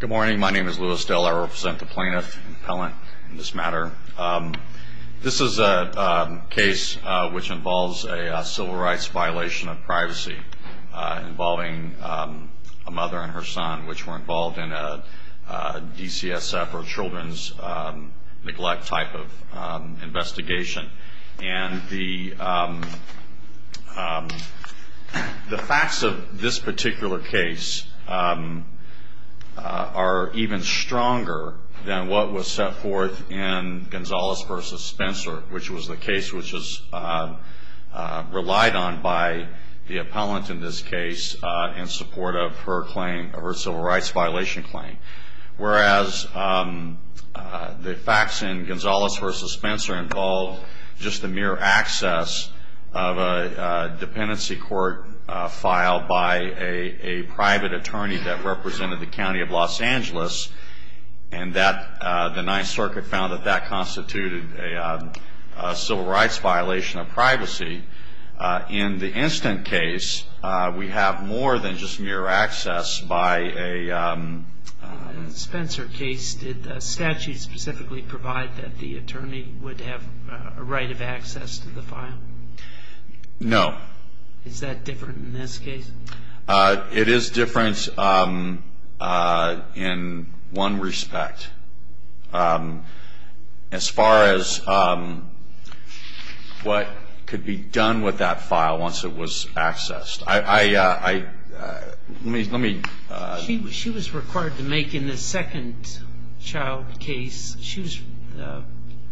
Good morning. My name is Louis Dell. I represent the plaintiff, the appellant in this matter. This is a case which involves a civil rights violation of privacy involving a mother and her son, which were involved in a DCSF or children's neglect type of investigation. The facts of this particular case are even stronger than what was set forth in Gonzalez v. Spencer, which was the case which was relied on by the appellant in this case in support of her civil rights violation claim. Whereas the facts in Gonzalez v. Spencer involve just the mere access of a dependency court file by a private attorney that represented the County of Los Angeles, and the Ninth Circuit found that that constituted a civil rights violation of privacy. In the instant case, we have more than just mere access by a... In the Spencer case, did the statute specifically provide that the attorney would have a right of access to the file? No. Is that different in this case? It is different in one respect, as far as what could be done with that file once it was accessed. I... Let me... She was required to make, in the second child case,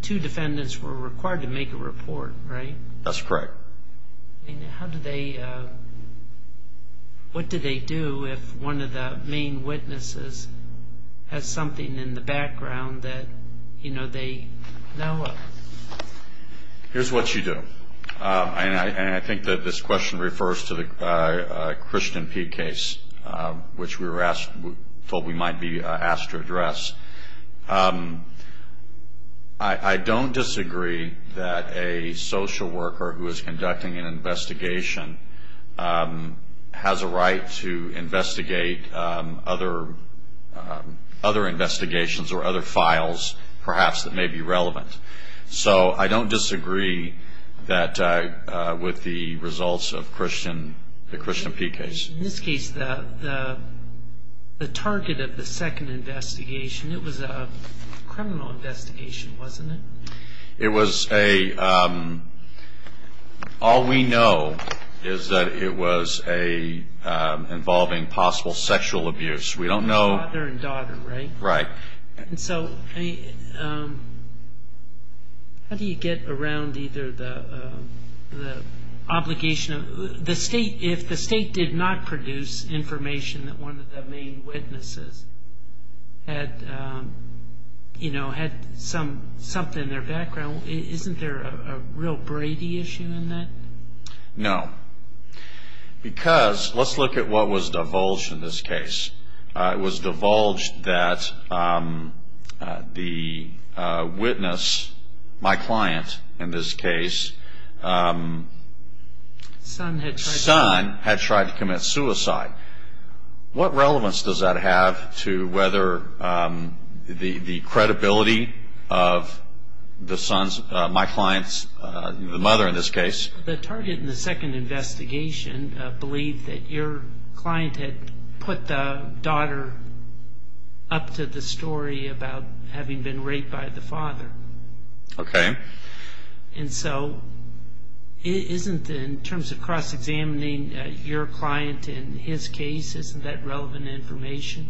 two defendants were required to make a report, right? That's correct. And how do they... What do they do if one of the main witnesses has something in the background that, you know, they know of? Here's what you do. And I think that this question refers to the Christian P case, which we were asked... I don't disagree that a social worker who is conducting an investigation has a right to investigate other investigations or other files, perhaps, that may be relevant. So I don't disagree with the results of the Christian P case. In this case, the target of the second investigation, it was a criminal investigation, wasn't it? It was a... All we know is that it was a... Involving possible sexual abuse. We don't know... Father and daughter, right? Right. And so, how do you get around either the obligation of... If the state did not produce information that one of the main witnesses had, you know, had something in their background, isn't there a real Brady issue in that? No. Because, let's look at what was divulged in this case. It was divulged that the witness, my client in this case... Son had tried... Son had tried to commit suicide. What relevance does that have to whether the credibility of the son's, my client's, the mother in this case... The target in the second investigation believed that your client had put the daughter up to the story about having been raped by the father. Okay. And so, isn't, in terms of cross-examining your client in his case, isn't that relevant information?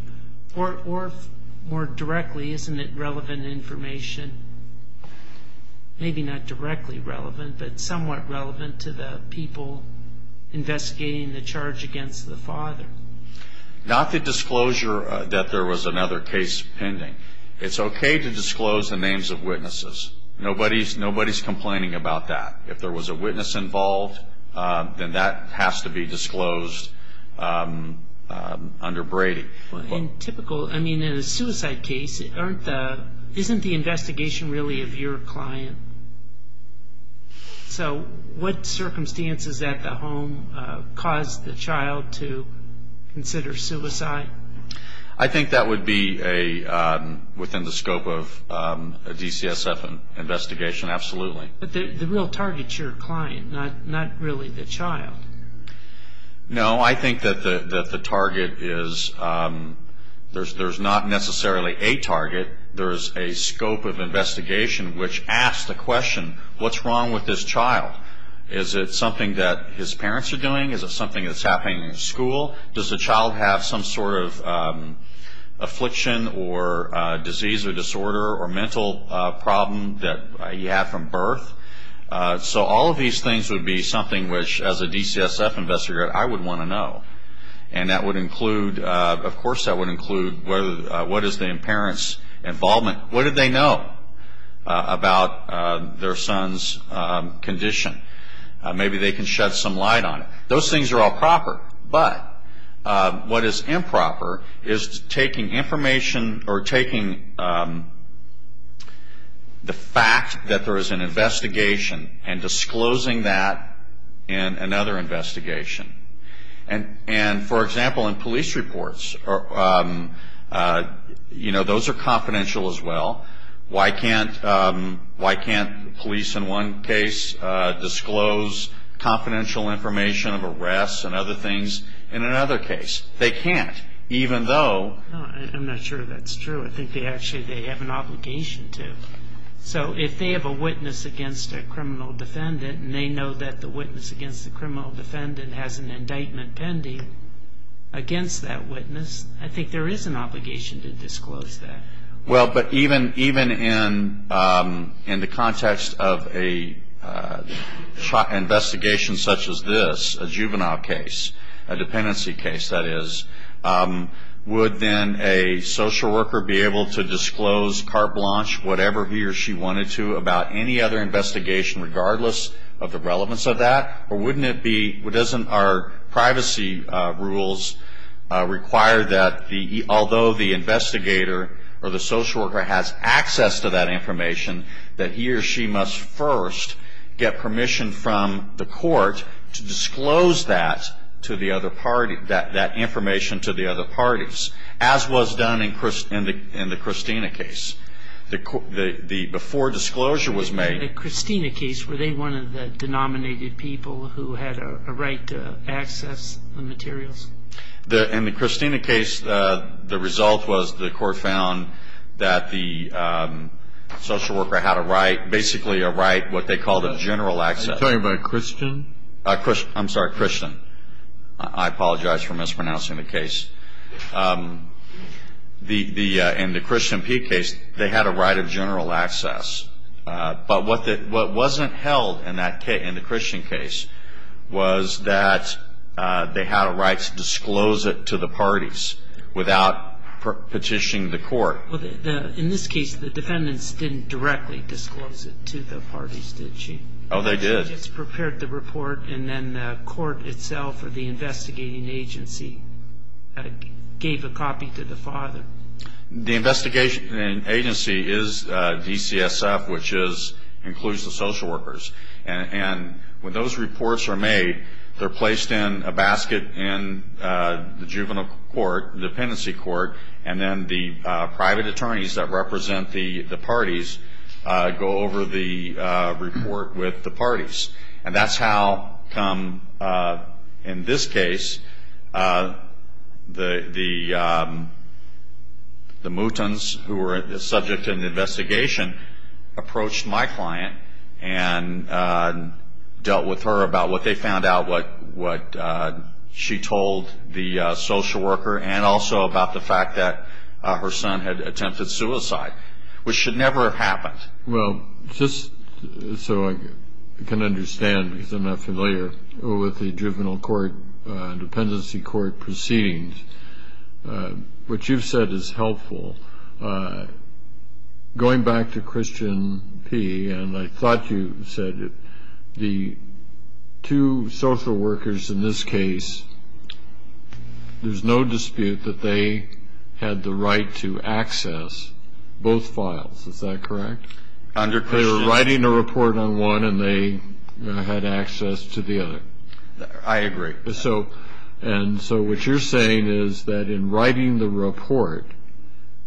Or, more directly, isn't it relevant information, maybe not directly relevant, but somewhat relevant to the people investigating the charge against the father? Not the disclosure that there was another case pending. It's okay to disclose the names of witnesses. Nobody's complaining about that. If there was a witness involved, then that has to be disclosed under Brady. Well, in typical, I mean, in a suicide case, isn't the investigation really of your client? So, what circumstances at the home caused the child to consider suicide? I think that would be within the scope of a DCSF investigation, absolutely. But the real target's your client, not really the child. No, I think that the target is, there's not necessarily a target. There's a scope of investigation which asks the question, what's wrong with this child? Is it something that his parents are doing? Is it something that's happening in school? Does the child have some sort of affliction or disease or disorder or mental problem that he had from birth? So all of these things would be something which, as a DCSF investigator, I would want to know. And that would include, of course that would include, what is the parent's involvement? What did they know about their son's condition? Maybe they can shed some light on it. Those things are all proper, but what is improper is taking information or taking the fact that there is an investigation and disclosing that in another investigation. And, for example, in police reports, you know, those are confidential as well. Why can't police in one case disclose confidential information of arrests and other things in another case? They can't, even though... I'm not sure that's true. I think they actually, they have an obligation to. So if they have a witness against a criminal defendant and they know that the witness against the criminal defendant has an indictment pending against that witness, I think there is an obligation to disclose that. Well, but even in the context of an investigation such as this, a juvenile case, a dependency case, that is, would then a social worker be able to disclose carte blanche, whatever he or she wanted to, about any other investigation regardless of the relevance of that? Or wouldn't it be... Our privacy rules require that although the investigator or the social worker has access to that information, that he or she must first get permission from the court to disclose that to the other party, that information to the other parties, as was done in the Christina case. Before disclosure was made... In the Christina case, the result was the court found that the social worker had a right, basically a right, what they called a general access. Are you talking about Christian? I'm sorry, Christian. I apologize for mispronouncing the case. In the Christian P case, they had a right of general access. But what wasn't held in the Christian case was that they had a right to disclose it to the parties without petitioning the court. In this case, the defendants didn't directly disclose it to the parties, did she? Oh, they did. They just prepared the report and then the court itself or the investigating agency gave a copy to the father. The investigating agency is DCSF, which includes the social workers. And when those reports are made, they're placed in a basket in the juvenile court, dependency court, and then the private attorneys that represent the parties go over the report with the parties. And that's how, in this case, the Moutons, who were the subject of the investigation, approached my client and dealt with her about what they found out, what she told the social worker, and also about the fact that her son had attempted suicide, which should never have happened. Well, just so I can understand, because I'm not familiar with the juvenile court, dependency court proceedings, what you've said is helpful. Going back to Christian P, and I thought you said the two social workers in this case, there's no dispute that they had the right to access both files, is that correct? They were writing a report on one and they had access to the other. I agree. And so what you're saying is that in writing the report,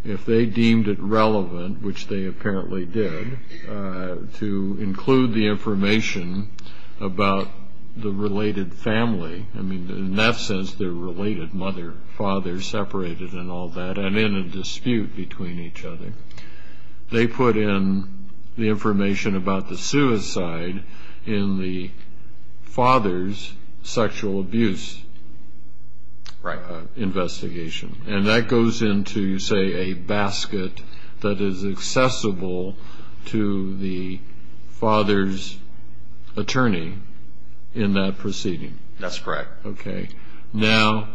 if they deemed it relevant, which they apparently did, to include the information about the related family, I mean, in that sense, their related mother, father, separated and all that, and in a dispute between each other, they put in the information about the suicide in the father's sexual abuse investigation. And that goes into, you say, a basket that is accessible to the father's attorney in that proceeding. That's correct. Okay. Now,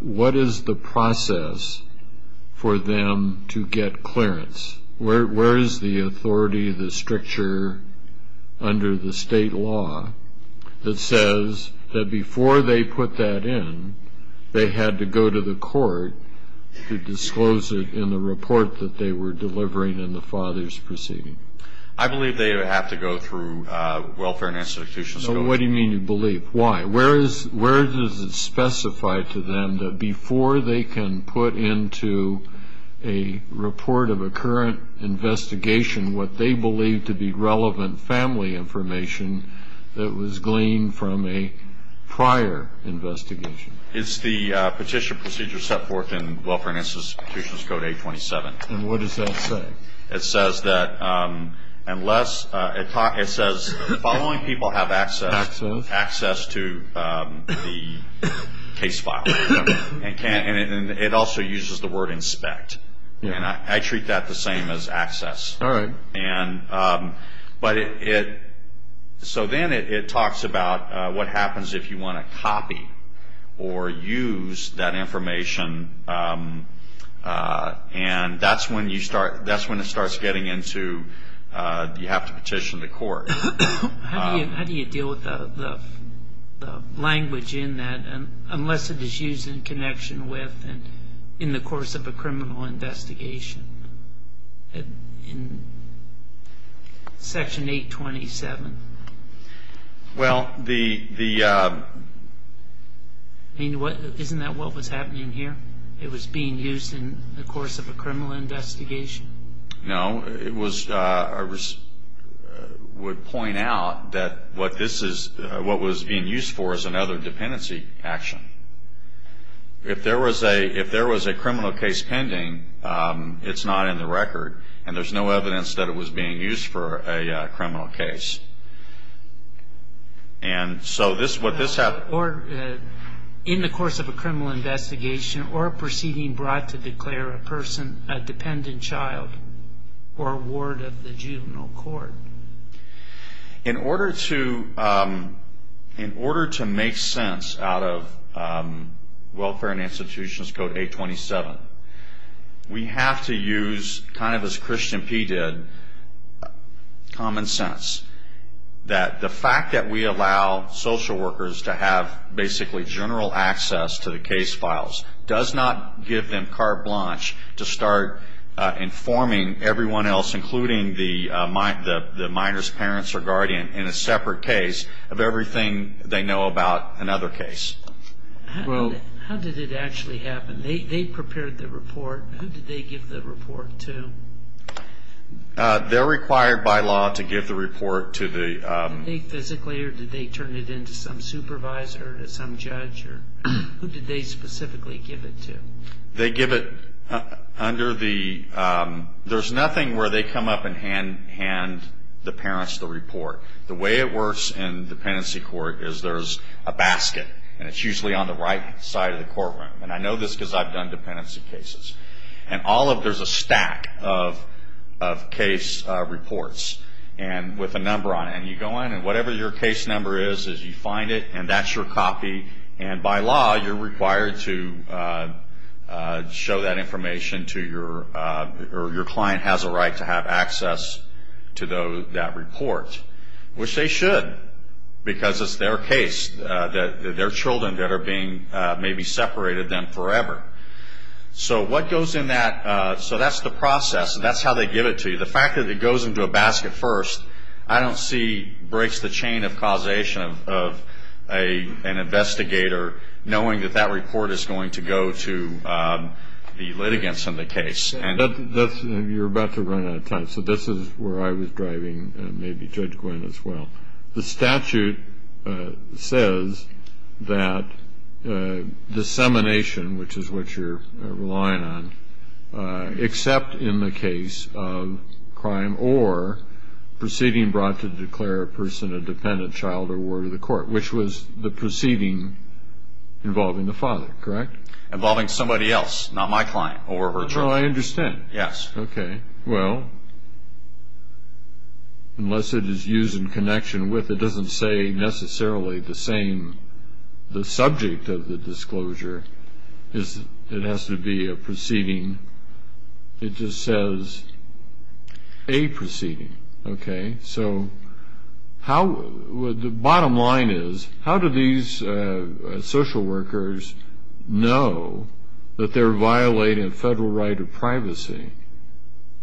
what is the process for them to get clearance? Where is the authority, the stricture under the state law that says that before they put that in, they had to go to the court to disclose it in the report that they were delivering in the father's proceeding? I believe they have to go through welfare and institutions. So what do you mean you believe? Why? Where does it specify to them that before they can put into a report of a current investigation what they believe to be relevant family information that was gleaned from a prior investigation? It's the Petition Procedure set forth in Welfare and Institutions Code 827. And what does that say? It says that following people have access to the case file. And it also uses the word inspect. I treat that the same as access. All right. So then it talks about what happens if you want to copy or use that information. And that's when it starts getting into you have to petition the court. How do you deal with the language in that unless it is used in connection with and in the course of a criminal investigation in Section 827? Well, the – I mean, isn't that what was happening here? It was being used in the course of a criminal investigation? No. It was – I would point out that what this is – what was being used for is another dependency action. If there was a criminal case pending, it's not in the record, and there's no evidence that it was being used for a criminal case. And so what this – in the course of a criminal investigation or a proceeding brought to declare a person a dependent child or a ward of the juvenile court. In order to make sense out of Welfare and Institutions Code 827, we have to use kind of as Christian P. did, common sense. That the fact that we allow social workers to have basically general access to the case files does not give them carte blanche to start informing everyone else, including the minor's parents or guardian, in a separate case of everything they know about another case. How did it actually happen? They prepared the report. Who did they give the report to? They're required by law to give the report to the – Did they physically or did they turn it in to some supervisor or to some judge? Who did they specifically give it to? They give it under the – there's nothing where they come up and hand the parents the report. The way it works in dependency court is there's a basket, and it's usually on the right side of the courtroom. And I know this because I've done dependency cases. And all of – there's a stack of case reports with a number on it. And you go in and whatever your case number is, you find it, and that's your copy. And by law, you're required to show that information to your – or your client has a right to have access to that report, which they should because it's their case, their children that are being maybe separated them forever. So what goes in that – so that's the process, and that's how they give it to you. The fact that it goes into a basket first, I don't see breaks the chain of causation of an investigator knowing that that report is going to go to the litigants in the case. You're about to run out of time. So this is where I was driving, and maybe Judge Gwinn as well. The statute says that dissemination, which is what you're relying on, except in the case of crime or proceeding brought to declare a person a dependent child or were to the court, which was the proceeding involving the father, correct? Involving somebody else, not my client or her child. Oh, I understand. Yes. Okay. Well, unless it is used in connection with, it doesn't say necessarily the same – the subject of the disclosure is – it has to be a proceeding. It just says a proceeding. Okay. So how – the bottom line is, how do these social workers know that they're violating a federal right of privacy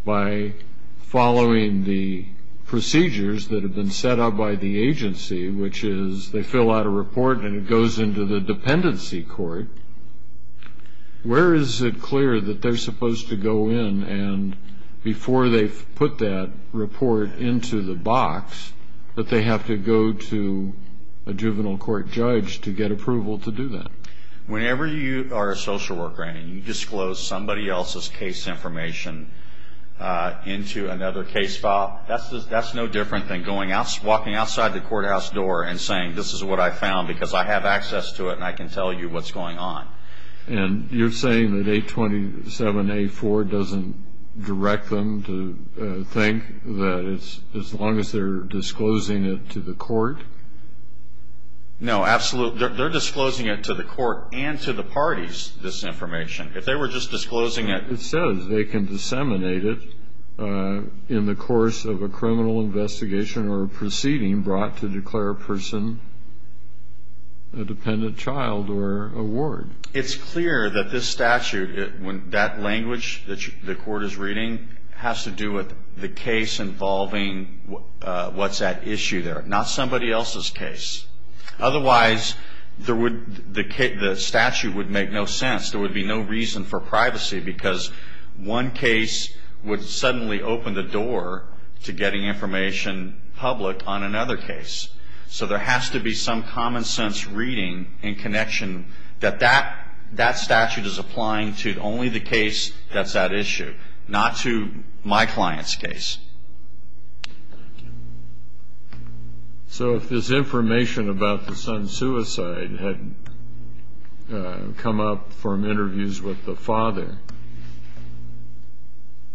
by following the procedures that have been set out by the agency, which is they fill out a report and it goes into the dependency court. Where is it clear that they're supposed to go in and before they put that report into the box, that they have to go to a juvenile court judge to get approval to do that? Whenever you are a social worker and you disclose somebody else's case information into another case file, that's no different than walking outside the courthouse door and saying, this is what I found because I have access to it and I can tell you what's going on. And you're saying that 827A4 doesn't direct them to think that it's – as long as they're disclosing it to the court? No, absolutely. They're disclosing it to the court and to the parties, this information. If they were just disclosing it – It says they can disseminate it in the course of a criminal investigation brought to declare a person a dependent child or a ward. It's clear that this statute, that language that the court is reading, has to do with the case involving what's at issue there, not somebody else's case. Otherwise, the statute would make no sense. There would be no reason for privacy because one case would suddenly open the door to getting information public on another case. So there has to be some common sense reading and connection that that statute is applying to only the case that's at issue, not to my client's case. Thank you. So if this information about the son's suicide had come up from interviews with the father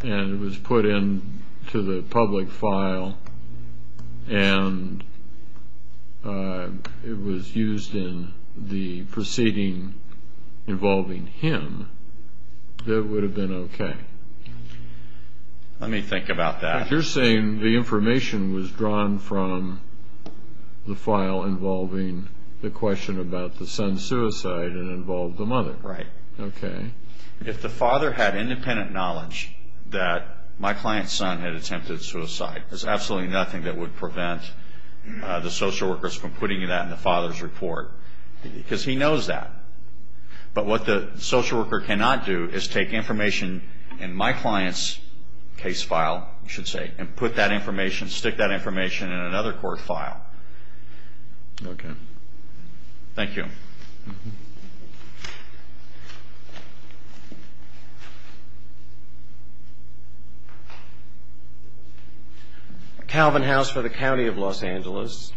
and it was put into the public file and it was used in the proceeding involving him, that would have been okay. Let me think about that. You're saying the information was drawn from the file involving the question about the son's suicide and involved the mother. Right. Okay. If the father had independent knowledge that my client's son had attempted suicide, there's absolutely nothing that would prevent the social workers from putting that in the father's report because he knows that. But what the social worker cannot do is take information in my client's case file, you should say, and put that information, stick that information in another court file. Okay. Thank you. Calvin House for the County of Los Angeles.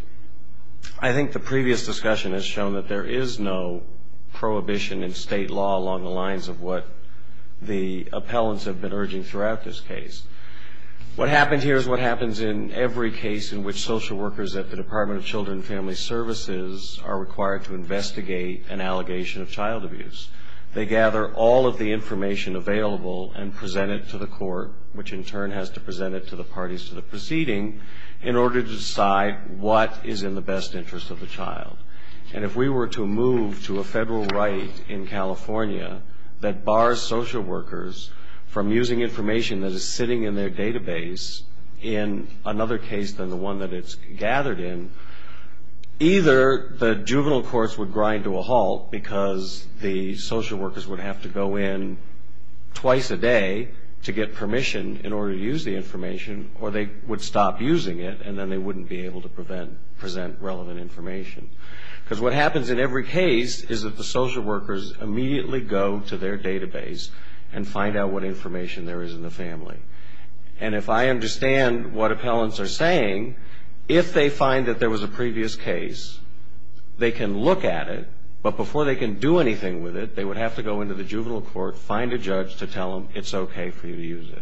I think the previous discussion has shown that there is no prohibition in state law along the lines of what the appellants have been urging throughout this case. What happened here is what happens in every case in which social workers at the Department of Children and Family Services are required to investigate an allegation of child abuse. They gather all of the information available and present it to the court, which in turn has to present it to the parties to the proceeding, in order to decide what is in the best interest of the child. And if we were to move to a federal right in California that bars social workers from using information that is sitting in their database in another case than the one that it's gathered in, either the juvenile courts would grind to a halt because the social workers would have to go in twice a day to get permission in order to use the information, or they would stop using it, and then they wouldn't be able to present relevant information. Because what happens in every case is that the social workers immediately go to their database and find out what information there is in the family. And if I understand what appellants are saying, if they find that there was a previous case, they can look at it, but before they can do anything with it, they would have to go into the juvenile court, find a judge to tell them it's okay for you to use it.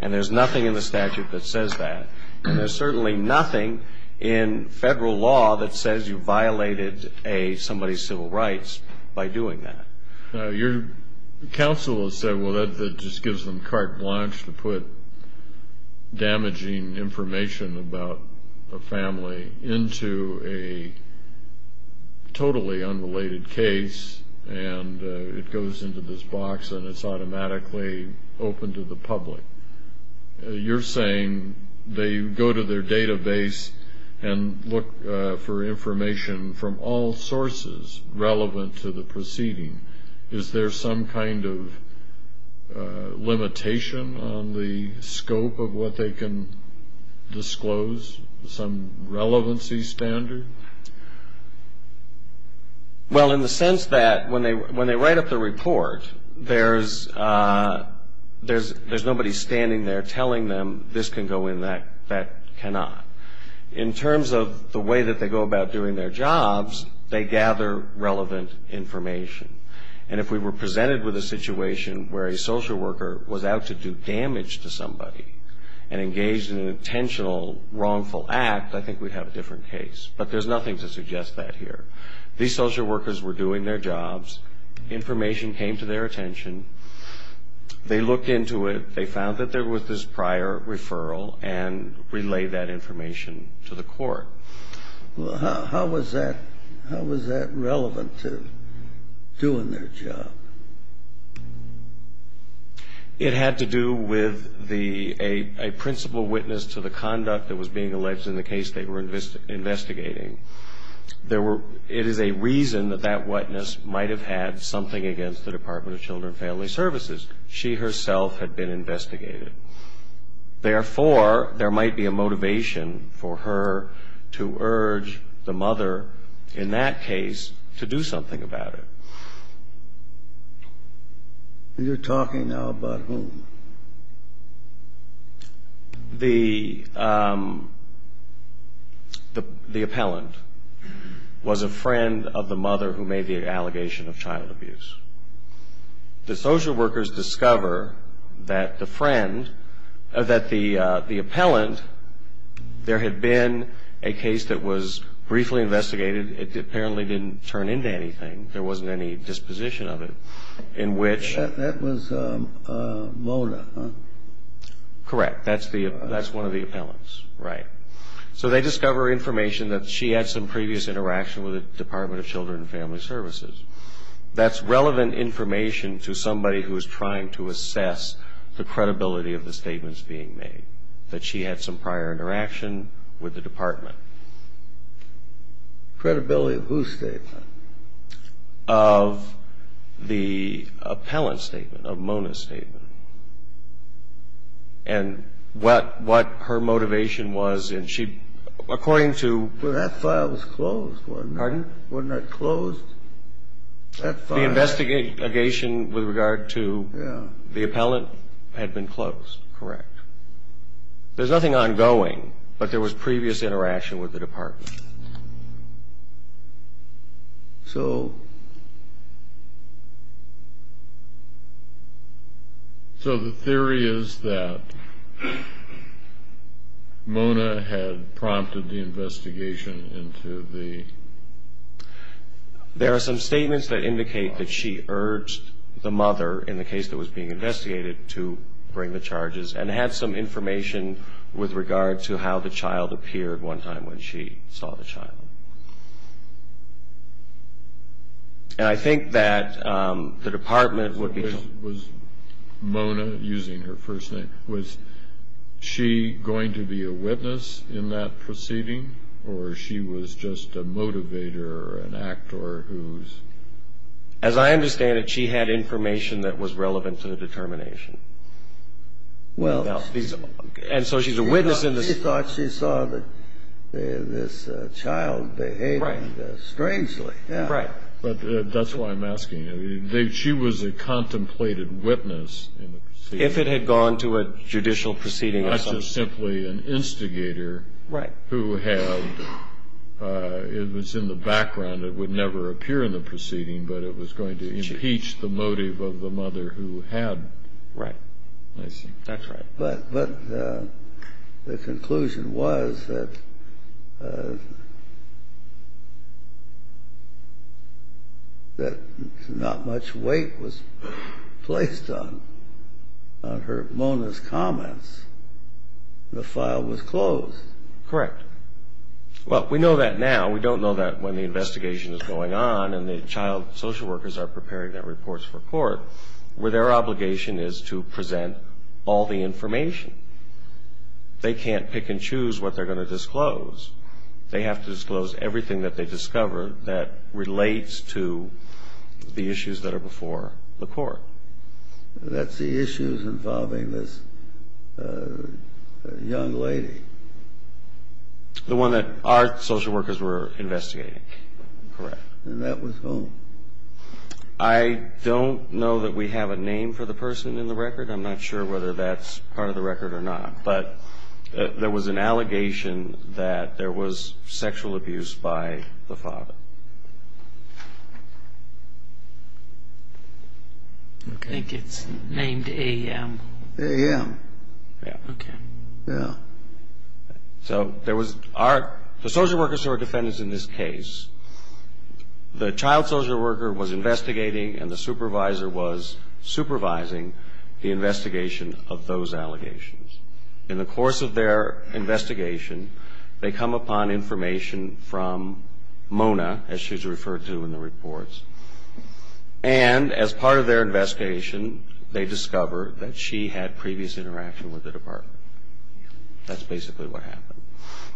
And there's nothing in the statute that says that. And there's certainly nothing in federal law that says you violated somebody's civil rights by doing that. Your counsel has said, well, that just gives them carte blanche to put damaging information about a family into a totally unrelated case, and it goes into this box, and it's automatically open to the public. You're saying they go to their database and look for information from all sources relevant to the proceeding. Is there some kind of limitation on the scope of what they can disclose, some relevancy standard? Well, in the sense that when they write up the report, there's nobody standing there telling them this can go in, that cannot. In terms of the way that they go about doing their jobs, they gather relevant information. And if we were presented with a situation where a social worker was out to do damage to somebody and engaged in an intentional wrongful act, I think we'd have a different case. But there's nothing to suggest that here. These social workers were doing their jobs. Information came to their attention. They looked into it. They found that there was this prior referral and relayed that information to the court. Well, how was that relevant to doing their job? It had to do with a principal witness to the conduct that was being alleged in the case they were investigating. It is a reason that that witness might have had something against the Department of Children and Family Services. She herself had been investigated. Therefore, there might be a motivation for her to urge the mother in that case to do something about it. You're talking now about whom? The appellant was a friend of the mother who made the allegation of child abuse. The social workers discover that the friend, that the appellant, there had been a case that was briefly investigated. It apparently didn't turn into anything. There wasn't any disposition of it. That was Mola, huh? Correct. That's one of the appellants. Right. So they discover information that she had some previous interaction with the Department of Children and Family Services. That's relevant information to somebody who is trying to assess the credibility of the statements being made, that she had some prior interaction with the department. Credibility of whose statement? Of the appellant's statement, of Mola's statement. And what her motivation was in she, according to. Well, that file was closed, wasn't it? Pardon? Wasn't that closed? The investigation with regard to the appellant had been closed. Correct. There's nothing ongoing, but there was previous interaction with the department. So. So the theory is that Mola had prompted the investigation into the. There are some statements that indicate that she urged the mother, in the case that was being investigated, to bring the charges and had some information with regard to how the child appeared one time when she saw the child. And I think that the department would be. Was Mona, using her first name, was she going to be a witness in that proceeding, or she was just a motivator or an actor who's. As I understand it, she had information that was relevant to the determination. Well. And so she's a witness in this. She thought she saw this child behaving strangely. Right. But that's why I'm asking. She was a contemplated witness. If it had gone to a judicial proceeding. Not just simply an instigator. Right. Who had. It was in the background. It would never appear in the proceeding, but it was going to impeach the motive of the mother who had. Right. I see. That's right. But the conclusion was that. That not much weight was placed on her. Mona's comments. The file was closed. Correct. Well, we know that now. We don't know that when the investigation is going on and the child social workers are preparing their reports for court, where their obligation is to present all the information. They can't pick and choose what they're going to disclose. They have to disclose everything that they discover that relates to the issues that are before the court. That's the issues involving this young lady. The one that our social workers were investigating. Correct. And that was whom? I don't know that we have a name for the person in the record. I'm not sure whether that's part of the record or not. But there was an allegation that there was sexual abuse by the father. I think it's named A.M. A.M. Yeah. Okay. Yeah. So there was our, the social workers who are defendants in this case, the child social worker was investigating and the supervisor was supervising the investigation of those allegations. In the course of their investigation, they come upon information from Mona, as she's referred to in the reports, and as part of their investigation, they discover that she had previous interaction with the department. That's basically what happened.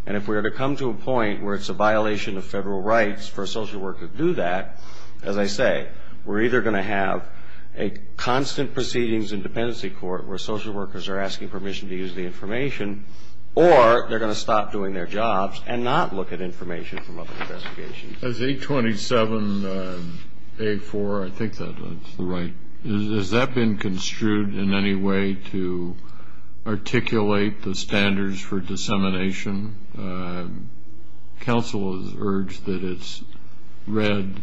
And if we were to come to a point where it's a violation of federal rights for a social worker to do that, as I say, we're either going to have a constant proceedings in dependency court where social workers are asking permission to use the information or they're going to stop doing their jobs and not look at information from other investigations. As 827A4, I think that's the right, has that been construed in any way to articulate the standards for dissemination? Counsel has urged that it's read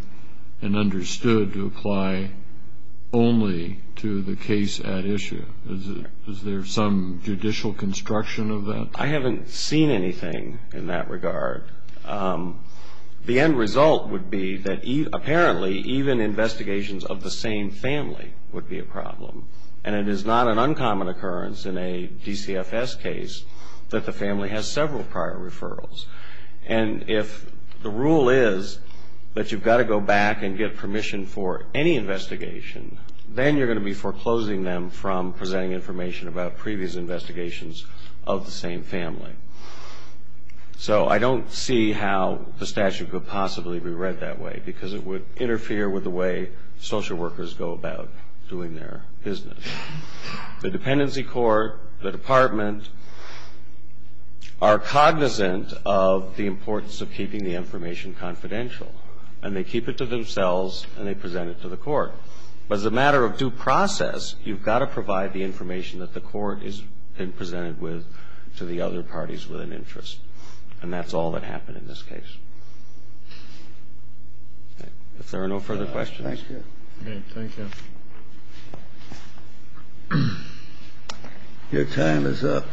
and understood to apply only to the case at issue. Is there some judicial construction of that? I haven't seen anything in that regard. The end result would be that apparently even investigations of the same family would be a problem, and it is not an uncommon occurrence in a DCFS case that the family has several prior referrals. And if the rule is that you've got to go back and get permission for any investigation, then you're going to be foreclosing them from presenting information about previous investigations of the same family. So I don't see how the statute could possibly be read that way because it would interfere with the way social workers go about doing their business. The dependency court, the department, are cognizant of the importance of keeping the information confidential, and they keep it to themselves and they present it to the court. But as a matter of due process, you've got to provide the information that the court has been presented with to the other parties with an interest. And that's all that happened in this case. If there are no further questions. Thank you. Thank you. Your time is up.